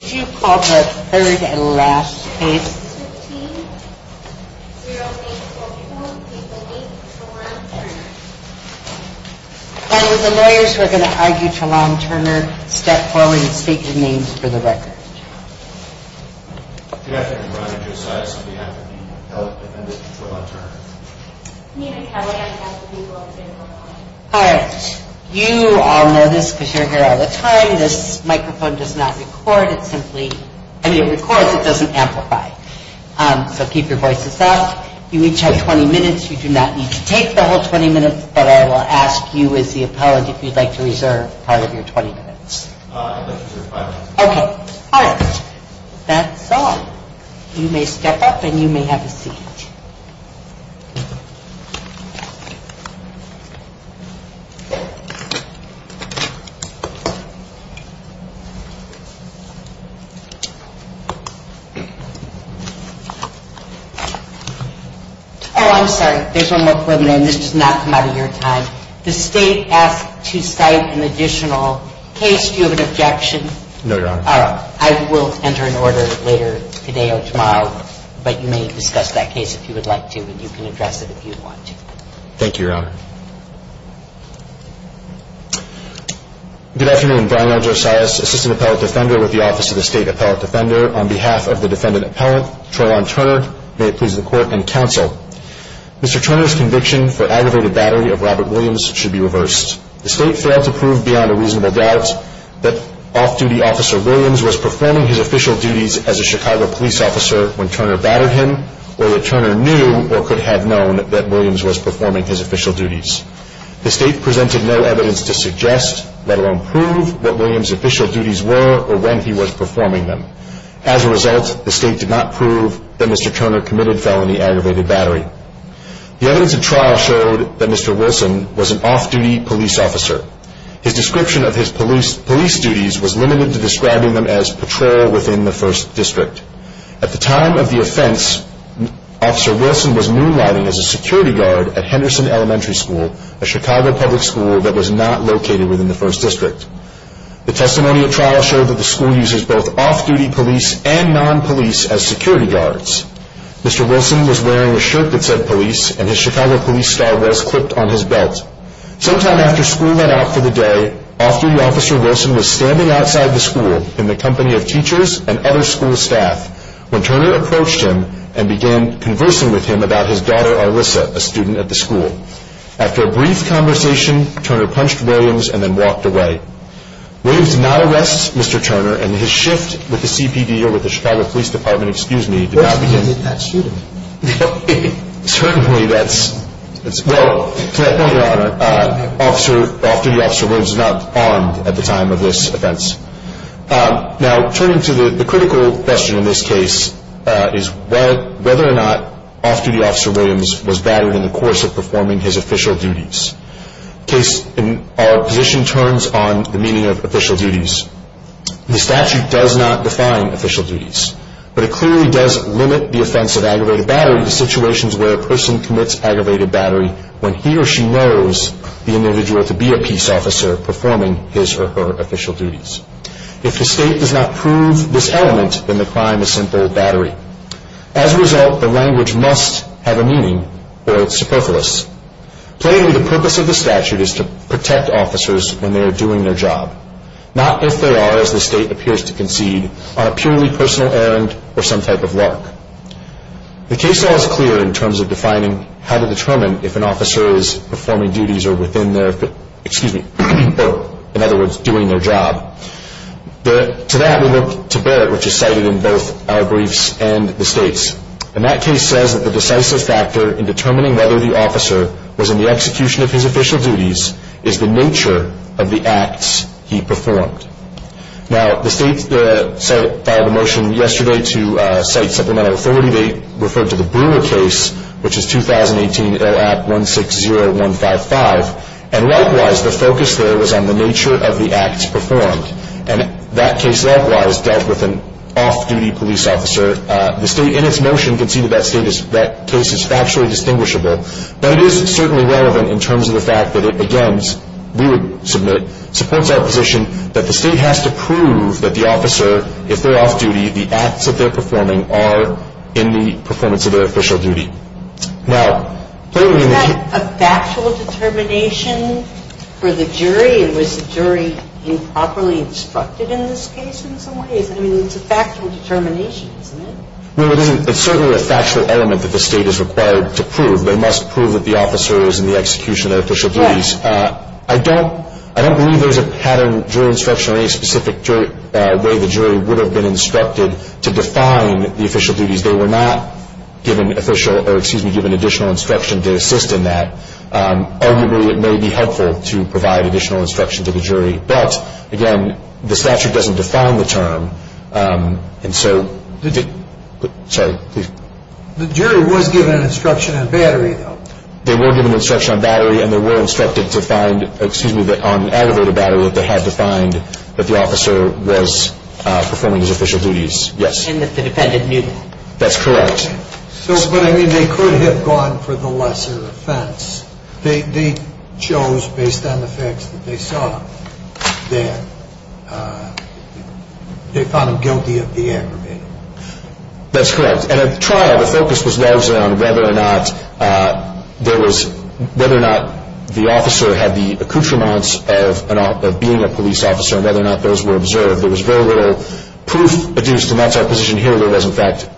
Could you call the third and last page? The lawyers who are going to argue Trelawne Turner, step forward and speak your names for the record. Good afternoon. Brian Josias on behalf of Nina Kelley, defendant of Trelawne Turner. All right. You all know this because you're here all the time. This microphone does not record. It simply, I mean it records, it doesn't amplify. So keep your voices up. You each have 20 minutes. You do not need to take the whole 20 minutes, but I will ask you as the appellant if you'd like to reserve part of your 20 minutes. Okay. All right. That's all. You may step up and you may have a seat. Oh, I'm sorry. There's one more point, and this does not come out of your time. The state asked to cite an additional case. Do you have an objection? No, Your Honor. All right. I will enter an order later today or tomorrow, but you may discuss that case if you would like to, and you can address it if you want to. Thank you, Your Honor. Good afternoon. Brian L. Josias, assistant appellate defender with the Office of the State Appellate Defender. On behalf of the defendant appellant, Trelawne Turner, may it please the Court and counsel, Mr. Turner's conviction for aggravated battery of Robert Williams should be reversed. The state failed to prove beyond a reasonable doubt that off-duty officer Williams was performing his official duties as a Chicago police officer when Turner battered him, or that Turner knew or could have known that Williams was performing his official duties. The state presented no evidence to suggest, let alone prove, what Williams' official duties were or when he was performing them. As a result, the state did not prove that Mr. Turner committed felony aggravated battery. The evidence in trial showed that Mr. Wilson was an off-duty police officer. His description of his police duties was limited to describing them as patrol within the first district. At the time of the offense, Officer Wilson was moonlighting as a security guard at Henderson Elementary School, a Chicago public school that was not located within the first district. The testimony of trial showed that the school uses both off-duty police and non-police as security guards. Mr. Wilson was wearing a shirt that said police, and his Chicago police star was clipped on his belt. Sometime after school went out for the day, off-duty officer Wilson was standing outside the school in the company of teachers and other school staff when Turner approached him and began conversing with him about his daughter, Arlissa, a student at the school. After a brief conversation, Turner punched Williams and then walked away. Williams did not arrest Mr. Turner, and his shift with the CPD or with the Chicago Police Department did not begin... Off-duty officer Williams was not armed at the time of this offense. Now, turning to the critical question in this case is whether or not off-duty officer Williams was battered in the course of performing his official duties. The case in our position turns on the meaning of official duties. The statute does not define official duties, but it clearly does limit the offense of aggravated battery to situations where a person commits aggravated battery when he or she knows the individual to be a peace officer performing his or her official duties. If the state does not prove this element, then the crime is simple battery. As a result, the language must have a meaning, or it's superfluous. Plainly, the purpose of the statute is to protect officers when they are doing their job, not if they are, as the state appears to concede, on a purely personal errand or some type of lark. The case law is clear in terms of defining how to determine if an officer is performing duties or, in other words, doing their job. To that, we look to Barrett, which is cited in both our briefs and the state's. And that case says that the decisive factor in determining whether the officer was in the execution of his official duties is the nature of the acts he performed. Now, the state filed a motion yesterday to cite supplemental authority. They referred to the Brewer case, which is 2018 LAP 160155. And likewise, the focus there was on the nature of the acts performed. And that case likewise dealt with an off-duty police officer. The state, in its motion, conceded that case is factually distinguishable. Now, it is certainly relevant in terms of the fact that it, again, we would submit, supports our position that the state has to prove that the officer, if they're off-duty, the acts that they're performing are in the performance of their official duty. Now, plainly, in the case of the Brewer case. But isn't that a factual determination for the jury? And was the jury improperly instructed in this case in some ways? I mean, it's a factual determination, isn't it? No, it isn't. It's certainly a factual element that the state is required to prove. They must prove that the officer is in the execution of their official duties. I don't believe there's a pattern of jury instruction or any specific way the jury would have been instructed to define the official duties. They were not given additional instruction to assist in that. Arguably, it may be helpful to provide additional instruction to the jury. And so, sorry, please. The jury was given instruction on battery, though. They were given instruction on battery and they were instructed to find, excuse me, on aggravated battery that they had defined that the officer was performing his official duties. Yes. And that the defendant knew that. That's correct. So, but I mean, they could have gone for the lesser offense. They chose, based on the facts that they saw, that they found him guilty of the aggravated. That's correct. And at the trial, the focus was largely on whether or not there was, whether or not the officer had the accoutrements of being a police officer and whether or not those were observed. There was very little proof adduced, and that's our position here, that there was, in fact,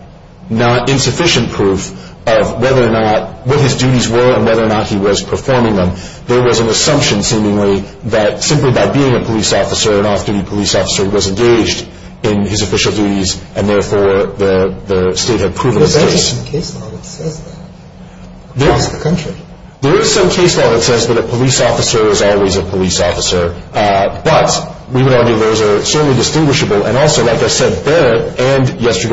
not insufficient proof of whether or not, what his duties were and whether or not he was performing them. There was an assumption, seemingly, that simply by being a police officer, an off-duty police officer, he was engaged in his official duties and, therefore, the state had proven his case. But there is some case law that says that across the country. There is some case law that says that a police officer is always a police officer. But we would argue those are certainly distinguishable. And also, like I said, their and last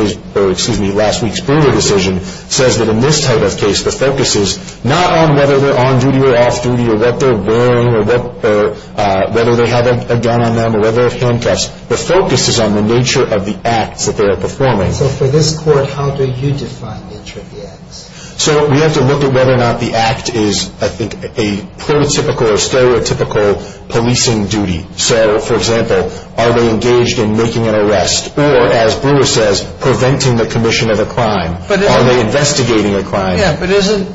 week's Brewer decision says that in this type of case, the focus is not on whether they're on-duty or off-duty or what they're wearing or whether they have a gun on them or whether they have handcuffs. The focus is on the nature of the acts that they are performing. So for this court, how do you define the nature of the acts? So we have to look at whether or not the act is, I think, a prototypical or stereotypical policing duty. So, for example, are they engaged in making an arrest? Or, as Brewer says, preventing the commission of a crime? Are they investigating a crime? Yeah, but isn't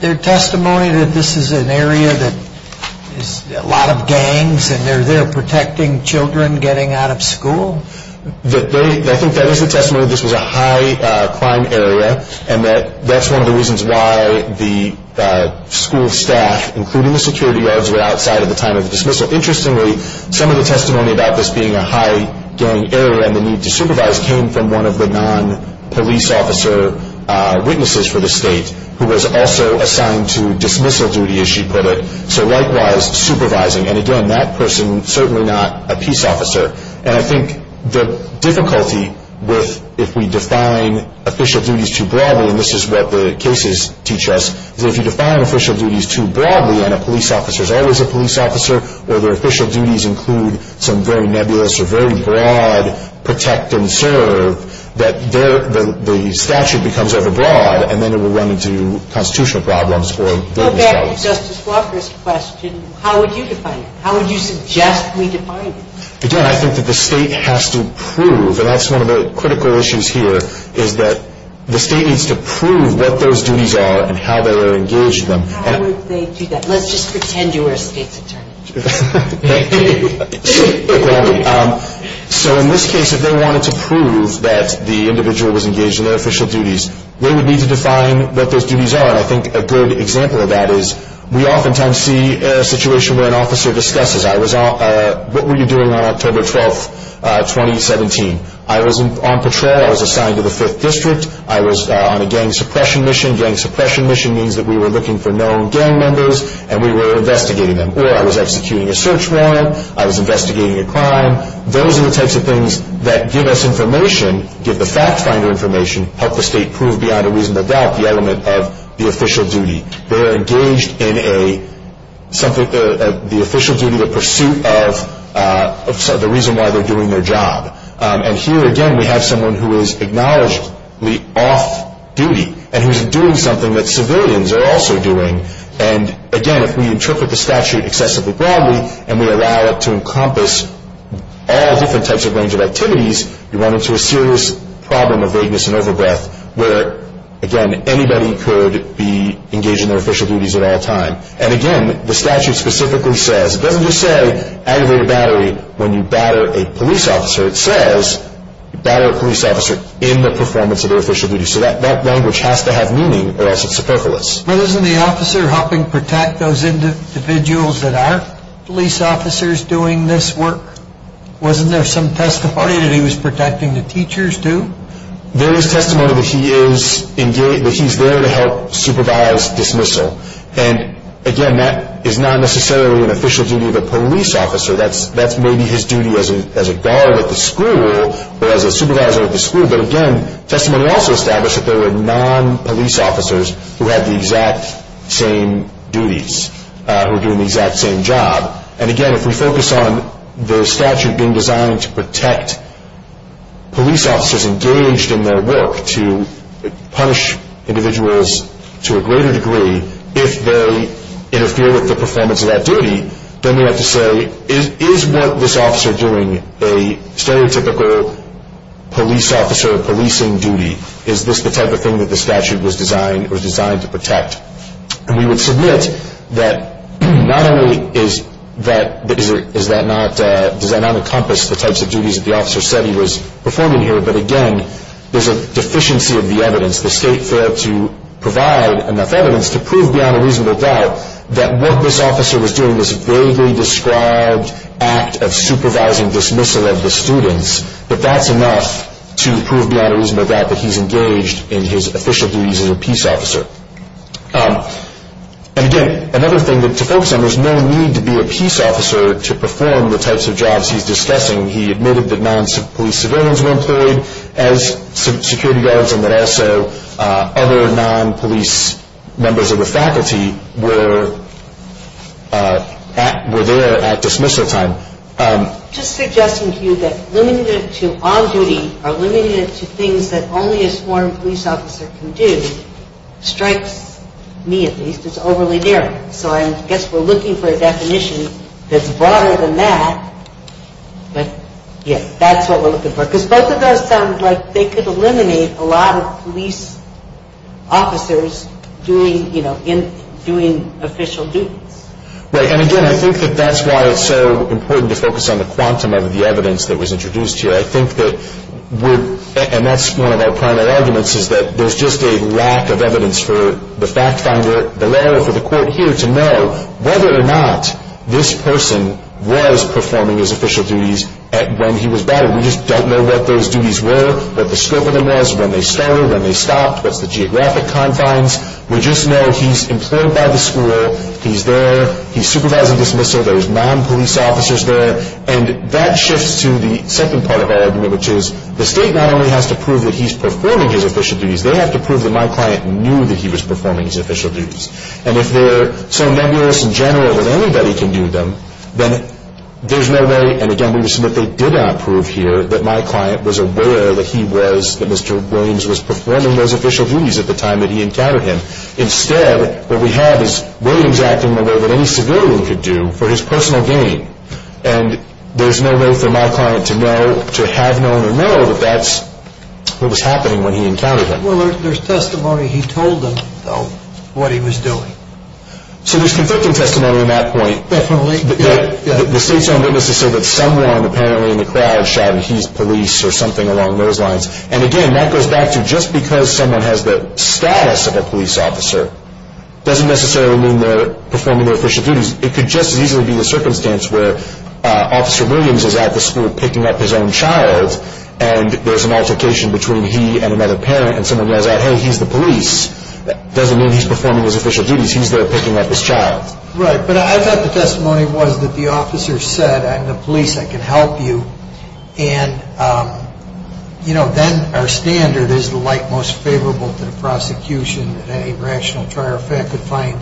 there testimony that this is an area that has a lot of gangs and they're there protecting children getting out of school? I think that is a testimony that this was a high-crime area and that that's one of the reasons why the school staff, including the security guards, were outside at the time of the dismissal. Interestingly, some of the testimony about this being a high-gang area and the need to supervise came from one of the non-police officer witnesses for the state who was also assigned to dismissal duty, as she put it. So, likewise, supervising. And, again, that person, certainly not a peace officer. And I think the difficulty with if we define official duties too broadly, and this is what the cases teach us, is that if you define official duties too broadly and a police officer is always a police officer or their official duties include some very nebulous or very broad protect and serve, that the statute becomes overbroad and then it will run into constitutional problems or various problems. Going back to Justice Walker's question, how would you define it? How would you suggest we define it? Again, I think that the state has to prove, and that's one of the critical issues here, is that the state needs to prove what those duties are and how they are engaged in them. How would they do that? Let's just pretend you were a state's attorney. So, in this case, if they wanted to prove that the individual was engaged in their official duties, they would need to define what those duties are, and I think a good example of that is we oftentimes see a situation where an officer discusses, what were you doing on October 12, 2017? I was on patrol. I was assigned to the 5th District. I was on a gang suppression mission. Gang suppression mission means that we were looking for known gang members and we were investigating them, or I was executing a search warrant. I was investigating a crime. Those are the types of things that give us information, give the fact finder information, help the state prove beyond a reasonable doubt the element of the official duty. They're engaged in the official duty, the pursuit of the reason why they're doing their job. And here, again, we have someone who is acknowledgedly off-duty and who's doing something that civilians are also doing. And, again, if we interpret the statute excessively broadly and we allow it to encompass all different types of range of activities, you run into a serious problem of vagueness and overbreath where, again, anybody could be engaged in their official duties at all times. And, again, the statute specifically says, it doesn't just say aggravated battery when you batter a police officer. It says you batter a police officer in the performance of their official duty. So that language has to have meaning or else it's superfluous. But isn't the officer helping protect those individuals that aren't police officers doing this work? Wasn't there some testimony that he was protecting the teachers too? There is testimony that he's there to help supervise dismissal. And, again, that is not necessarily an official duty of a police officer. That's maybe his duty as a guard at the school or as a supervisor at the school. But, again, testimony also established that there were non-police officers who had the exact same duties, who were doing the exact same job. And, again, if we focus on the statute being designed to protect police officers engaged in their work to punish individuals to a greater degree if they interfere with the performance of that duty, then we have to say, is what this officer doing a stereotypical police officer policing duty? Is this the type of thing that the statute was designed to protect? And we would submit that not only does that not encompass the types of duties that the officer said he was performing here, but, again, there's a deficiency of the evidence. The state failed to provide enough evidence to prove beyond a reasonable doubt that what this officer was doing was a vaguely described act of supervising dismissal of the students, but that's enough to prove beyond a reasonable doubt that he's engaged in his official duties as a peace officer. And, again, another thing to focus on, there's no need to be a peace officer to perform the types of jobs he's discussing. He admitted that non-police civilians were employed as security guards and that also other non-police members of the faculty were there at dismissal time. Just suggesting to you that limiting it to on-duty or limiting it to things that only a sworn police officer can do strikes me at least as overly narrow. So I guess we're looking for a definition that's broader than that, but, yeah, that's what we're looking for. Because both of those sound like they could eliminate a lot of police officers doing official duties. Right, and, again, I think that that's why it's so important to focus on the quantum of the evidence that was introduced here. I think that we're, and that's one of our primary arguments, is that there's just a lack of evidence for the fact finder, the lawyer, or for the court here to know whether or not this person was performing his official duties when he was battered. We just don't know what those duties were, what the scope of them was, when they started, when they stopped, what's the geographic confines. We just know he's employed by the school, he's there, he's supervising dismissal, there's non-police officers there, and that shifts to the second part of our argument, which is the state not only has to prove that he's performing his official duties, they have to prove that my client knew that he was performing his official duties. And if they're so nebulous in general that anybody can do them, then there's no way, and, again, we've seen that they did not prove here that my client was aware that he was, that Mr. Williams was performing those official duties at the time that he encountered him. Instead, what we have is Williams acting in a way that any civilian could do for his personal gain, and there's no way for my client to know, to have known or know, that that's what was happening when he encountered him. Well, there's testimony he told them, though, what he was doing. So there's conflicting testimony on that point. Definitely. The state's own witnesses say that someone apparently in the crowd shouted, he's police or something along those lines. And, again, that goes back to just because someone has the status of a police officer doesn't necessarily mean they're performing their official duties. It could just as easily be the circumstance where Officer Williams is at the school picking up his own child, and there's an altercation between he and another parent, and someone yells out, hey, he's the police. That doesn't mean he's performing his official duties. He's there picking up his child. Right. But I thought the testimony was that the officer said, I'm the police. I can help you. And, you know, then our standard is the like most favorable to the prosecution, that any rational trier of fact could find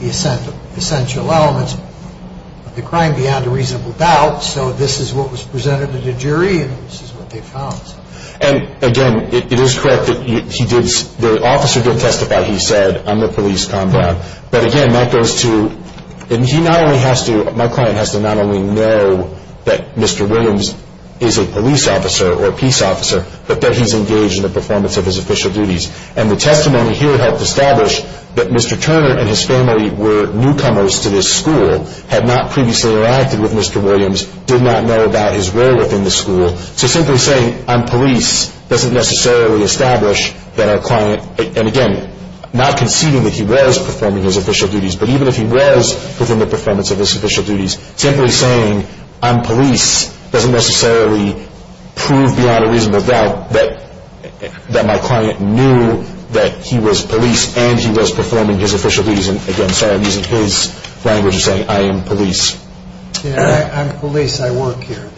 the essential elements of the crime beyond a reasonable doubt. So this is what was presented to the jury, and this is what they found. And, again, it is correct that the officer did testify, he said, on the police combat. But, again, that goes to, and he not only has to, my client has to not only know that Mr. Williams is a police officer or a peace officer, but that he's engaged in the performance of his official duties. And the testimony here helped establish that Mr. Turner and his family were newcomers to this school, had not previously interacted with Mr. Williams, did not know about his role within the school. So simply saying I'm police doesn't necessarily establish that our client, and, again, not conceding that he was performing his official duties, but even if he was within the performance of his official duties, simply saying I'm police doesn't necessarily prove beyond a reasonable doubt that my client knew that he was police and he was performing his official duties. And, again, sorry, I'm using his language of saying I am police. I'm police. I work here.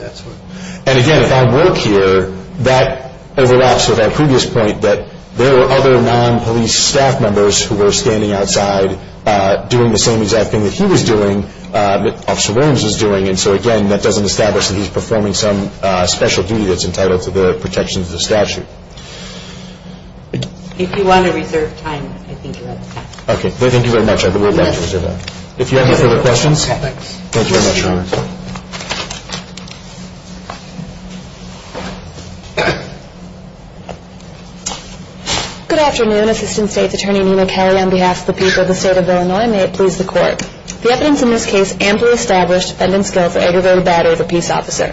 And, again, if I work here, that overlaps with our previous point that there were other non-police staff members who were standing outside doing the same exact thing that he was doing, that Officer Williams was doing. And so, again, that doesn't establish that he's performing some special duty that's entitled to the protection of the statute. If you want to reserve time, I think you're on the staff. Okay. Thank you very much. I would love to reserve that. If you have any further questions. Okay. Thank you. Good afternoon. Assistant State's Attorney Nina Kelly on behalf of the people of the State of Illinois. May it please the Court. The evidence in this case amply established defendant's skill for aggravated battery of a peace officer.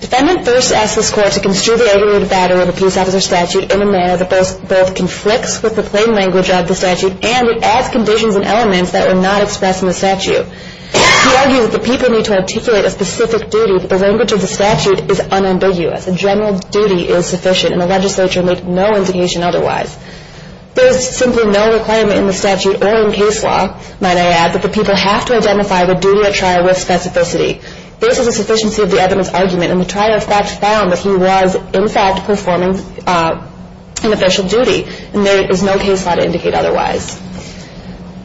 Defendant first asked this Court to construe the aggravated battery of a peace officer statute in a manner that both conflicts with the plain language of the statute and it adds conditions and elements that were not expressed in the statute. He argues that the people need to articulate a specific duty that the language of the statute is unambiguous. A general duty is sufficient and the legislature made no indication otherwise. There is simply no requirement in the statute or in case law, might I add, that the people have to identify the duty at trial with specificity. This is a sufficiency of the evidence argument and the trial in fact found that he was, in fact, performing an official duty and there is no case law to indicate otherwise.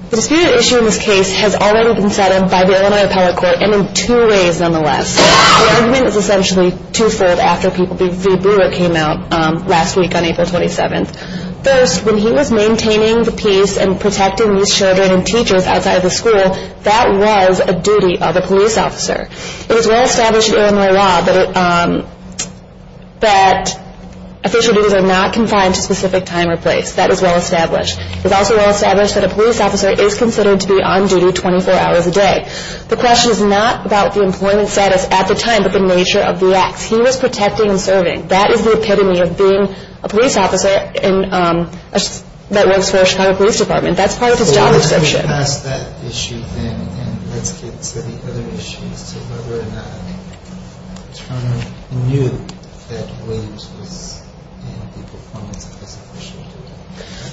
The disputed issue in this case has already been settled by the Illinois Appellate Court and in two ways, nonetheless. The argument is essentially two-fold after people beat the blue it came out last week on April 27th. First, when he was maintaining the peace and protecting these children and teachers outside of the school, that was a duty of a police officer. It is well established in Illinois law that official duties are not confined to specific time or place. That is well established. It is also well established that a police officer is considered to be on duty 24 hours a day. The question is not about the employment status at the time, but the nature of the acts. He was protecting and serving. That is the epitome of being a police officer that works for a Chicago Police Department. That is part of his job description. Let's get past that issue then and let's get to the other issues. So whether or not Turner knew that Williams was in the performance of his official duty.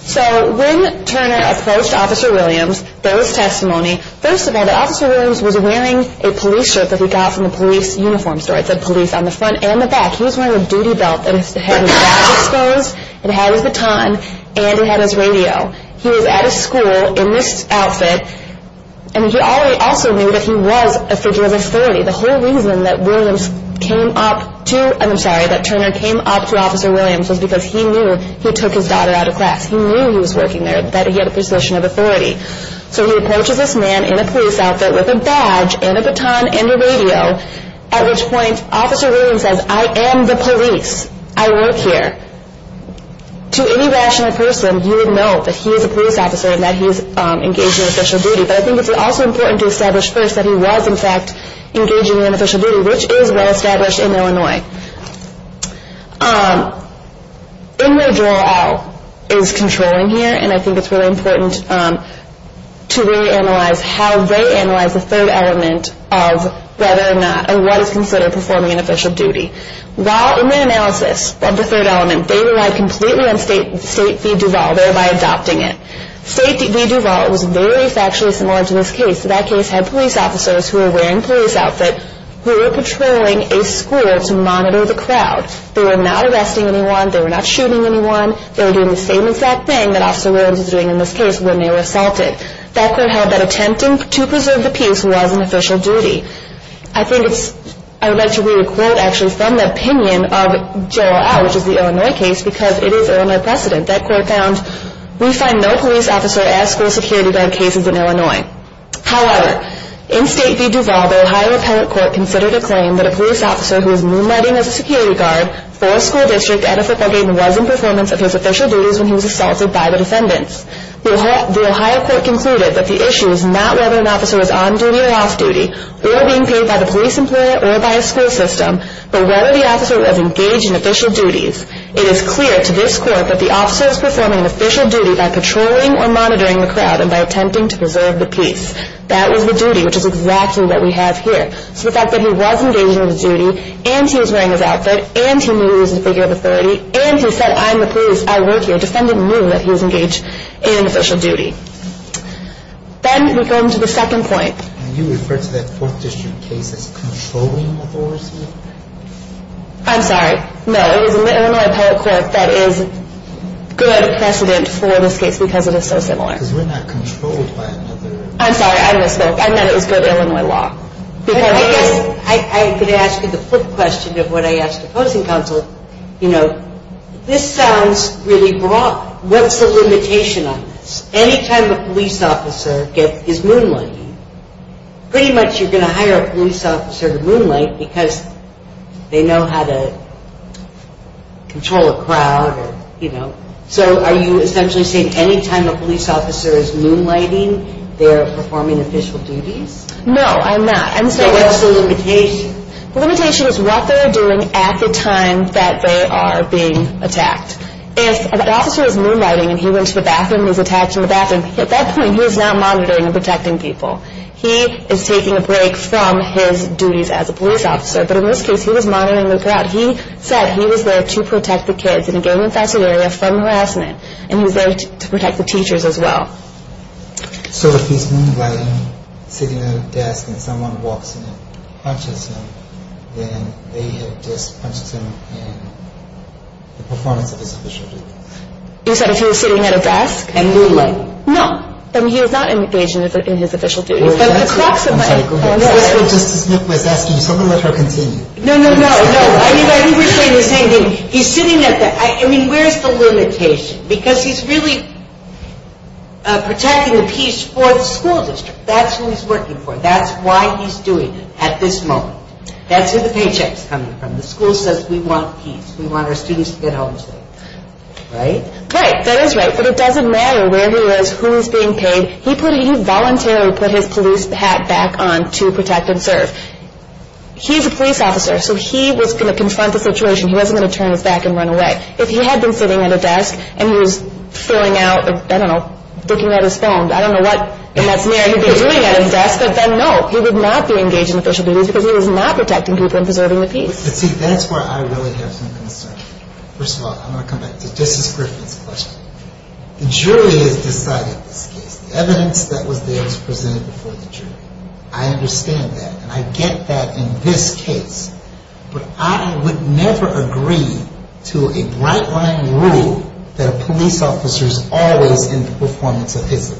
So when Turner approached Officer Williams, there was testimony. First of all, that Officer Williams was wearing a police shirt that he got from the police uniform store. It said police on the front and the back. He was wearing a duty belt and his hat was exposed. It had his baton and it had his radio. He was at a school in this outfit and he also knew that he was a figure of authority. The whole reason that Turner came up to Officer Williams was because he knew he took his daughter out of class. He knew he was working there, that he had a position of authority. So he approaches this man in a police outfit with a badge and a baton and a radio. At which point Officer Williams says, I am the police. I work here. To any rational person, you would know that he is a police officer and that he is engaged in official duty. But I think it's also important to establish first that he was, in fact, engaged in an official duty, which is well established in Illinois. In their draw all is controlling here and I think it's really important to really analyze how they analyze the third element of whether or not or what is considered performing an official duty. While in their analysis of the third element, they relied completely on State v. Duvall, thereby adopting it. State v. Duvall was very factually similar to this case. That case had police officers who were wearing police outfits who were patrolling a school to monitor the crowd. They were not arresting anyone. They were not shooting anyone. They were doing the same exact thing that Officer Williams was doing in this case when they were assaulted. That court held that attempting to preserve the peace was an official duty. I think it's, I would like to read a quote actually from the opinion of J.R.R., which is the Illinois case, because it is Illinois precedent. That court found, we find no police officer as school security guard cases in Illinois. However, in State v. Duvall, the Ohio Appellate Court considered a claim that a police officer who was moonlighting as a security guard for a school district at a football game was in performance of his official duties when he was assaulted by the defendants. The Ohio Court concluded that the issue is not whether an officer was on duty or off duty, or being paid by the police employer or by a school system, but whether the officer was engaged in official duties. It is clear to this court that the officer is performing an official duty by patrolling or monitoring the crowd and by attempting to preserve the peace. That was the duty, which is exactly what we have here. So the fact that he was engaged in the duty, and he was wearing his outfit, and he knew he was a figure of authority, and he said, I'm the police, I work here, the defendant knew that he was engaged in official duty. Then we come to the second point. And you referred to that Fourth District case as controlling authority? I'm sorry. No, it was the Illinois Appellate Court that is good precedent for this case because it is so similar. Because we're not controlled by another... I'm sorry, I misspoke. I meant it was good Illinois law. I guess I could ask you the flip question of what I asked opposing counsel. You know, this sounds really broad. What's the limitation on this? Any time a police officer is moonlighting, pretty much you're going to hire a police officer to moonlight because they know how to control a crowd. So are you essentially saying any time a police officer is moonlighting, they're performing official duties? No, I'm not. So what's the limitation? The limitation is what they're doing at the time that they are being attacked. If an officer is moonlighting and he went to the bathroom and was attacked in the bathroom, at that point he's not monitoring and protecting people. He is taking a break from his duties as a police officer, but in this case he was monitoring the crowd. He said he was there to protect the kids in a gang-infested area from harassment, and he was there to protect the teachers as well. So if he's moonlighting, sitting at a desk, and someone walks in and punches him, then they have just punched him in the performance of his official duties? You said if he was sitting at a desk? And moonlighting. No. I mean, he was not engaged in his official duties. I'm sorry, go ahead. Just as Nick was asking, so I'm going to let her continue. No, no, no, no. I think we're saying the same thing. He's sitting at the – I mean, where's the limitation? Because he's really protecting the peace for the school district. That's who he's working for. That's why he's doing it at this moment. That's where the paycheck is coming from. The school says we want peace. We want our students to get home safe. Right? Right. That is right. But it doesn't matter where he is, who is being paid. He voluntarily put his police hat back on to protect and serve. He's a police officer, so he was going to confront the situation. He wasn't going to turn his back and run away. If he had been sitting at a desk and he was filling out, I don't know, looking at his phone, I don't know what in that scenario he would be doing at his desk, but then, no, he would not be engaged in official duties because he was not protecting people and preserving the peace. See, that's where I really have some concern. First of all, I'm going to come back to Justice Griffith's question. The jury has decided this case. The evidence that was there was presented before the jury. I understand that, and I get that in this case. But I would never agree to a bright-line rule that a police officer is always in the performance of his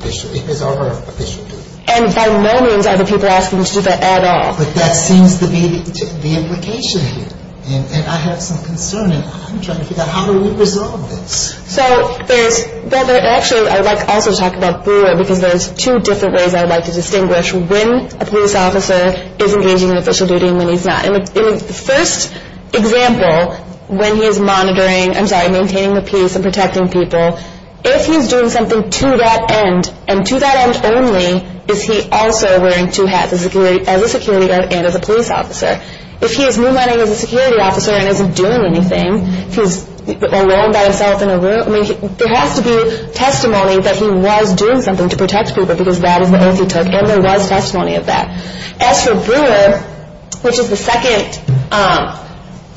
or her official duty. And by no means are the people asking you to do that at all. But that seems to be the implication here. And I have some concern, and I'm trying to figure out how do we resolve this. So there's – well, actually, I'd like also to talk about Brewer, because there's two different ways I'd like to distinguish when a police officer is engaging in official duty and when he's not. The first example, when he is monitoring – I'm sorry, maintaining the peace and protecting people, if he's doing something to that end, and to that end only, is he also wearing two hats, as a security guard and as a police officer. If he is moonlighting as a security officer and isn't doing anything, if he's alone by himself in a room – I mean, there has to be testimony that he was doing something to protect people, because that is the oath he took, and there was testimony of that. As for Brewer, which is the second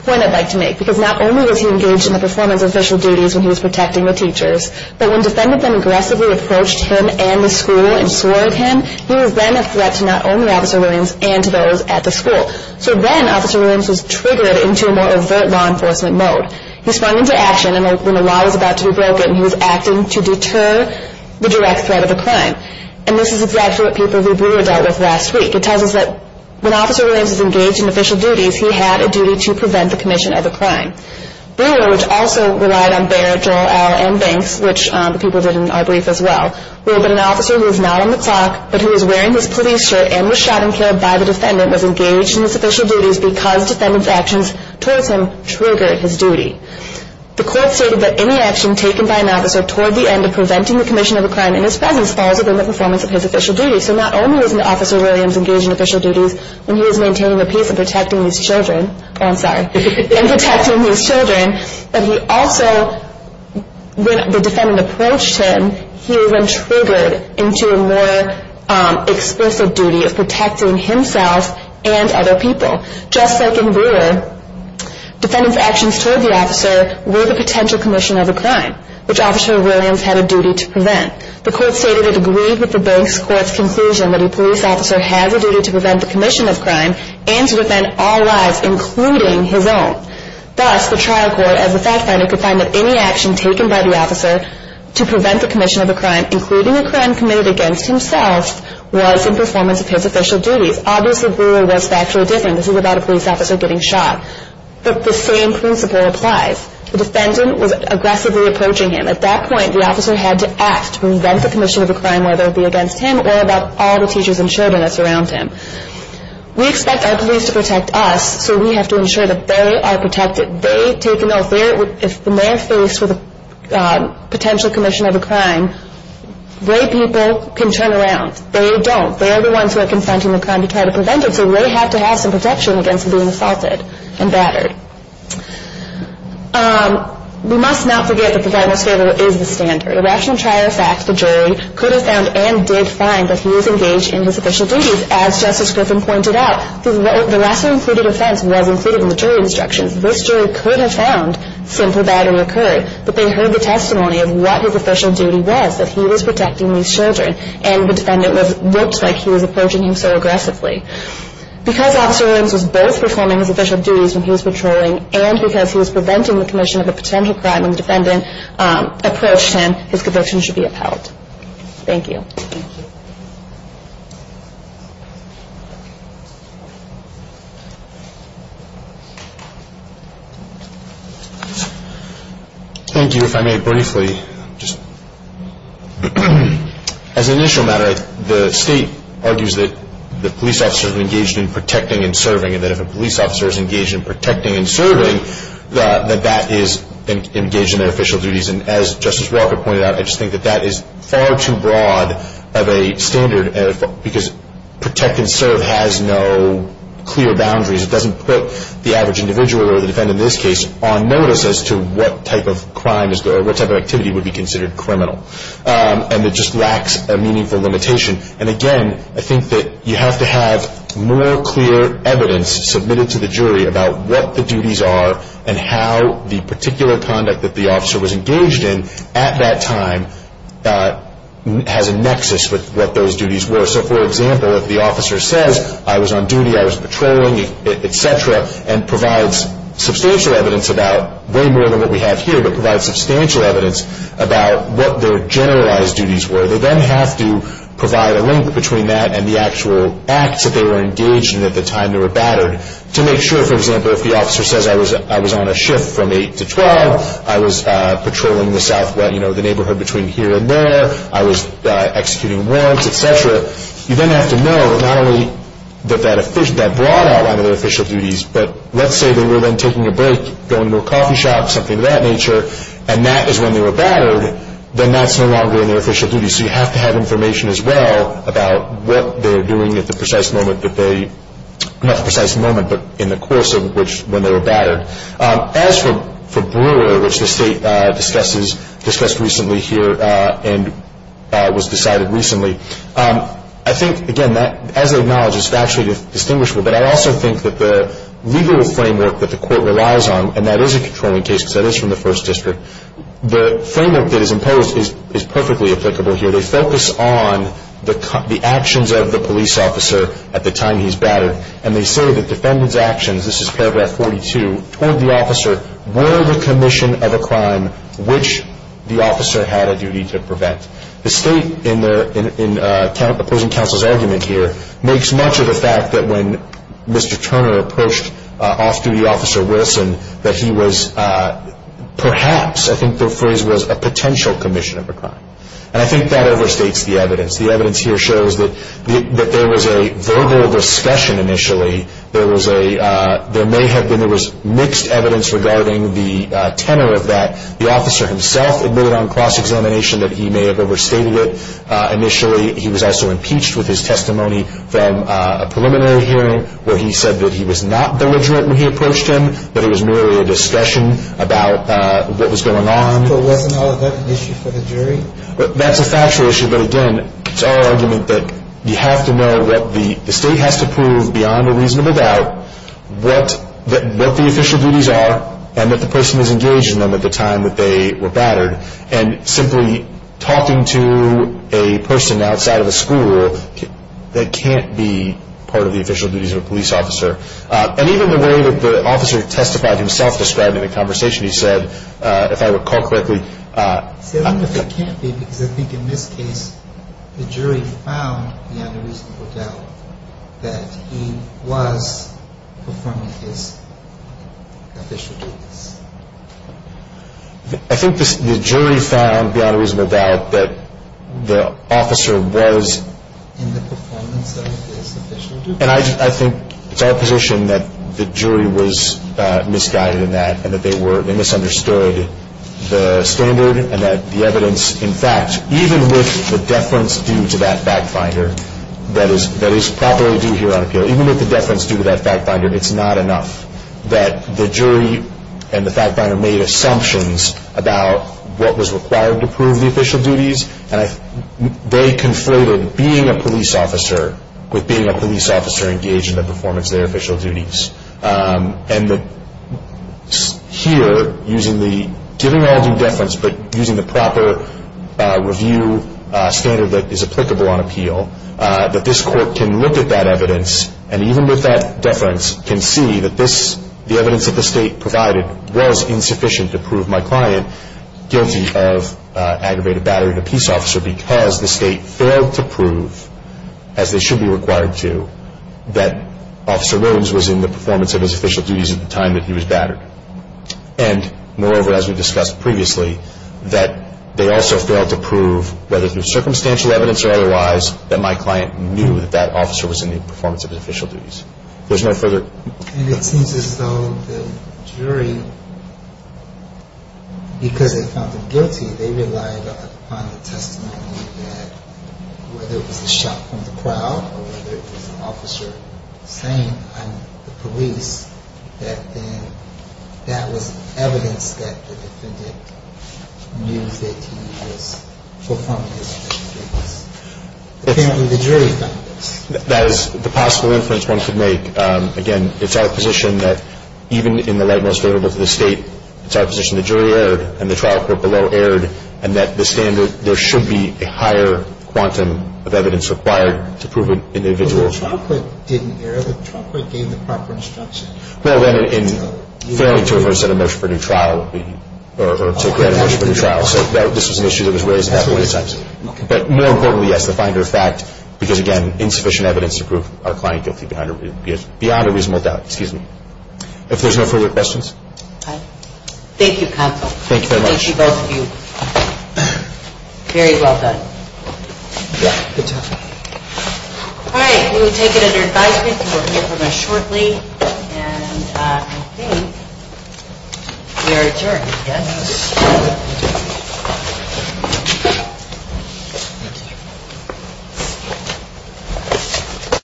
point I'd like to make, because not only was he engaged in the performance of official duties when he was protecting the teachers, but when defendants aggressively approached him and the school and swore at him, he was then a threat to not only Officer Williams and to those at the school. So then Officer Williams was triggered into a more overt law enforcement mode. He sprung into action, and when the law was about to be broken, he was acting to deter the direct threat of the crime. And this is exactly what people who Brewer dealt with last week. It tells us that when Officer Williams was engaged in official duties, he had a duty to prevent the commission of a crime. Brewer, which also relied on Bayer, Joel, Al, and Banks, which people did in our brief as well, will have been an officer who is not on the clock, but who is wearing his police shirt and was shot and killed by the defendant, was engaged in his official duties because defendant's actions towards him triggered his duty. The court stated that any action taken by an officer toward the end of preventing the commission of a crime in his presence falls within the performance of his official duties. So not only was Officer Williams engaged in official duties when he was maintaining the peace and protecting these children, but he also, when the defendant approached him, he was then triggered into a more explicit duty of protecting himself and other people. Just like in Brewer, defendant's actions toward the officer were the potential commission of a crime, which Officer Williams had a duty to prevent. The court stated it agreed with the base court's conclusion that a police officer has a duty to prevent the commission of a crime and to defend all lives, including his own. Thus, the trial court, as a fact finder, could find that any action taken by the officer to prevent the commission of a crime, including a crime committed against himself, was in performance of his official duties. Obviously, Brewer was factually different. This is about a police officer getting shot. But the same principle applies. The defendant was aggressively approaching him. At that point, the officer had to act to prevent the commission of a crime, whether it be against him or about all the teachers and children that surround him. We expect our police to protect us, so we have to ensure that they are protected. They take an oath. If the mayor faced with a potential commission of a crime, they people can turn around. They don't. They are the ones who are confronting the crime to try to prevent it, so they have to have some protection against being assaulted and battered. We must not forget that the final standard is the standard. The rational trial, in fact, the jury could have found and did find that he was engaged in his official duties. As Justice Griffin pointed out, the lesser-included offense was included in the jury instructions. This jury could have found simple battering occurred, but they heard the testimony of what his official duty was, that he was protecting these children, and the defendant looked like he was approaching him so aggressively. Because Officer Williams was both performing his official duties when he was patrolling and because he was preventing the commission of a potential crime when the defendant approached him, his conviction should be upheld. Thank you. Thank you. If I may briefly, just as an initial matter, the state argues that the police officers are engaged in protecting and serving and that if a police officer is engaged in protecting and serving, that that is engaged in their official duties. And as Justice Walker pointed out, I just think that that is far too broad of a standard because protect and serve has no clear boundaries. It doesn't put the average individual or the defendant in this case on notice as to what type of crime is there or what type of activity would be considered criminal. And it just lacks a meaningful limitation. And, again, I think that you have to have more clear evidence submitted to the jury about what the duties are and how the particular conduct that the officer was engaged in at that time has a nexus with what those duties were. So, for example, if the officer says, I was on duty, I was patrolling, et cetera, and provides substantial evidence about way more than what we have here but provides substantial evidence about what their generalized duties were, they then have to provide a link between that and the actual acts that they were engaged in at the time they were battered. To make sure, for example, if the officer says, I was on a shift from 8 to 12, I was patrolling the neighborhood between here and there, I was executing warrants, et cetera, you then have to know that not only that that broad outline of their official duties, but let's say they were then taking a break, going to a coffee shop, something of that nature, and that is when they were battered, then that's no longer in their official duties. So you have to have information as well about what they're doing at the precise moment that they, not the precise moment, but in the course of when they were battered. As for Brewer, which the State discussed recently here and was decided recently, I think, again, as I acknowledge, it's factually distinguishable, but I also think that the legal framework that the Court relies on, and that is a controlling case because that is from the First District, the framework that is imposed is perfectly applicable here. They focus on the actions of the police officer at the time he's battered, and they say that defendant's actions, this is paragraph 42, toward the officer were the commission of a crime which the officer had a duty to prevent. The State, in opposing counsel's argument here, makes much of the fact that when Mr. Turner approached off-duty officer Wilson, that he was perhaps, I think the phrase was, a potential commission of a crime. And I think that overstates the evidence. The evidence here shows that there was a verbal discussion initially. There may have been mixed evidence regarding the tenor of that. The officer himself admitted on cross-examination that he may have overstated it initially. He was also impeached with his testimony from a preliminary hearing where he said that he was not belligerent when he approached him, that it was merely a discussion about what was going on. But wasn't all of that an issue for the jury? That's a factual issue. But again, it's our argument that you have to know what the State has to prove beyond a reasonable doubt, what the official duties are, and that the person is engaged in them at the time that they were battered. And simply talking to a person outside of a school, that can't be part of the official duties of a police officer. And even the way that the officer testified himself describing the conversation, he said, if I recall correctly. I don't know if it can't be because I think in this case the jury found beyond a reasonable doubt that he was performing his official duties. I think the jury found beyond a reasonable doubt that the officer was. In the performance of his official duties. And I think it's our position that the jury was misguided in that and that they misunderstood the standard and that the evidence in fact, even with the deference due to that fact finder, that is properly due here on appeal, even with the deference due to that fact finder, it's not enough. That the jury and the fact finder made assumptions about what was required to prove the official duties. And they conflated being a police officer with being a police officer engaged in the performance of their official duties. And here, using the, giving all due deference, but using the proper review standard that is applicable on appeal, that this court can look at that evidence and even with that deference can see that this, the evidence that the state provided was insufficient to prove my client guilty of aggravated battering of a peace officer because the state failed to prove, as they should be required to, that Officer Williams was in the performance of his official duties at the time that he was battered. And moreover, as we discussed previously, that they also failed to prove, whether through circumstantial evidence or otherwise, that my client knew that that officer was in the performance of his official duties. There's no further. And it seems as though the jury, because they found him guilty, they relied upon the testimony that whether it was a shot from the crowd or whether it was an officer saying, I'm the police, that then that was evidence that the defendant knew that he was performing his official duties. Apparently the jury found this. That is the possible inference one could make. Again, it's our position that even in the light most valuable to the state, it's our position the jury erred and the trial court below erred and that the standard, there should be a higher quantum of evidence required to prove an individual. But the trial court didn't err. The trial court gave the proper instruction. Well, then, in fairly terms, a motion for a new trial would be, or to grant a motion for a new trial. So this was an issue that was raised about 20 times. But more importantly, yes, the finder of fact, because, again, insufficient evidence to prove our client guilty beyond a reasonable doubt. Excuse me. If there's no further questions. Thank you, counsel. Thank you very much. Thank you, both of you. Very well done. Yeah, good job. All right. We will take it under advisory. People will hear from us shortly. And I think we are adjourned, yes? Thank you.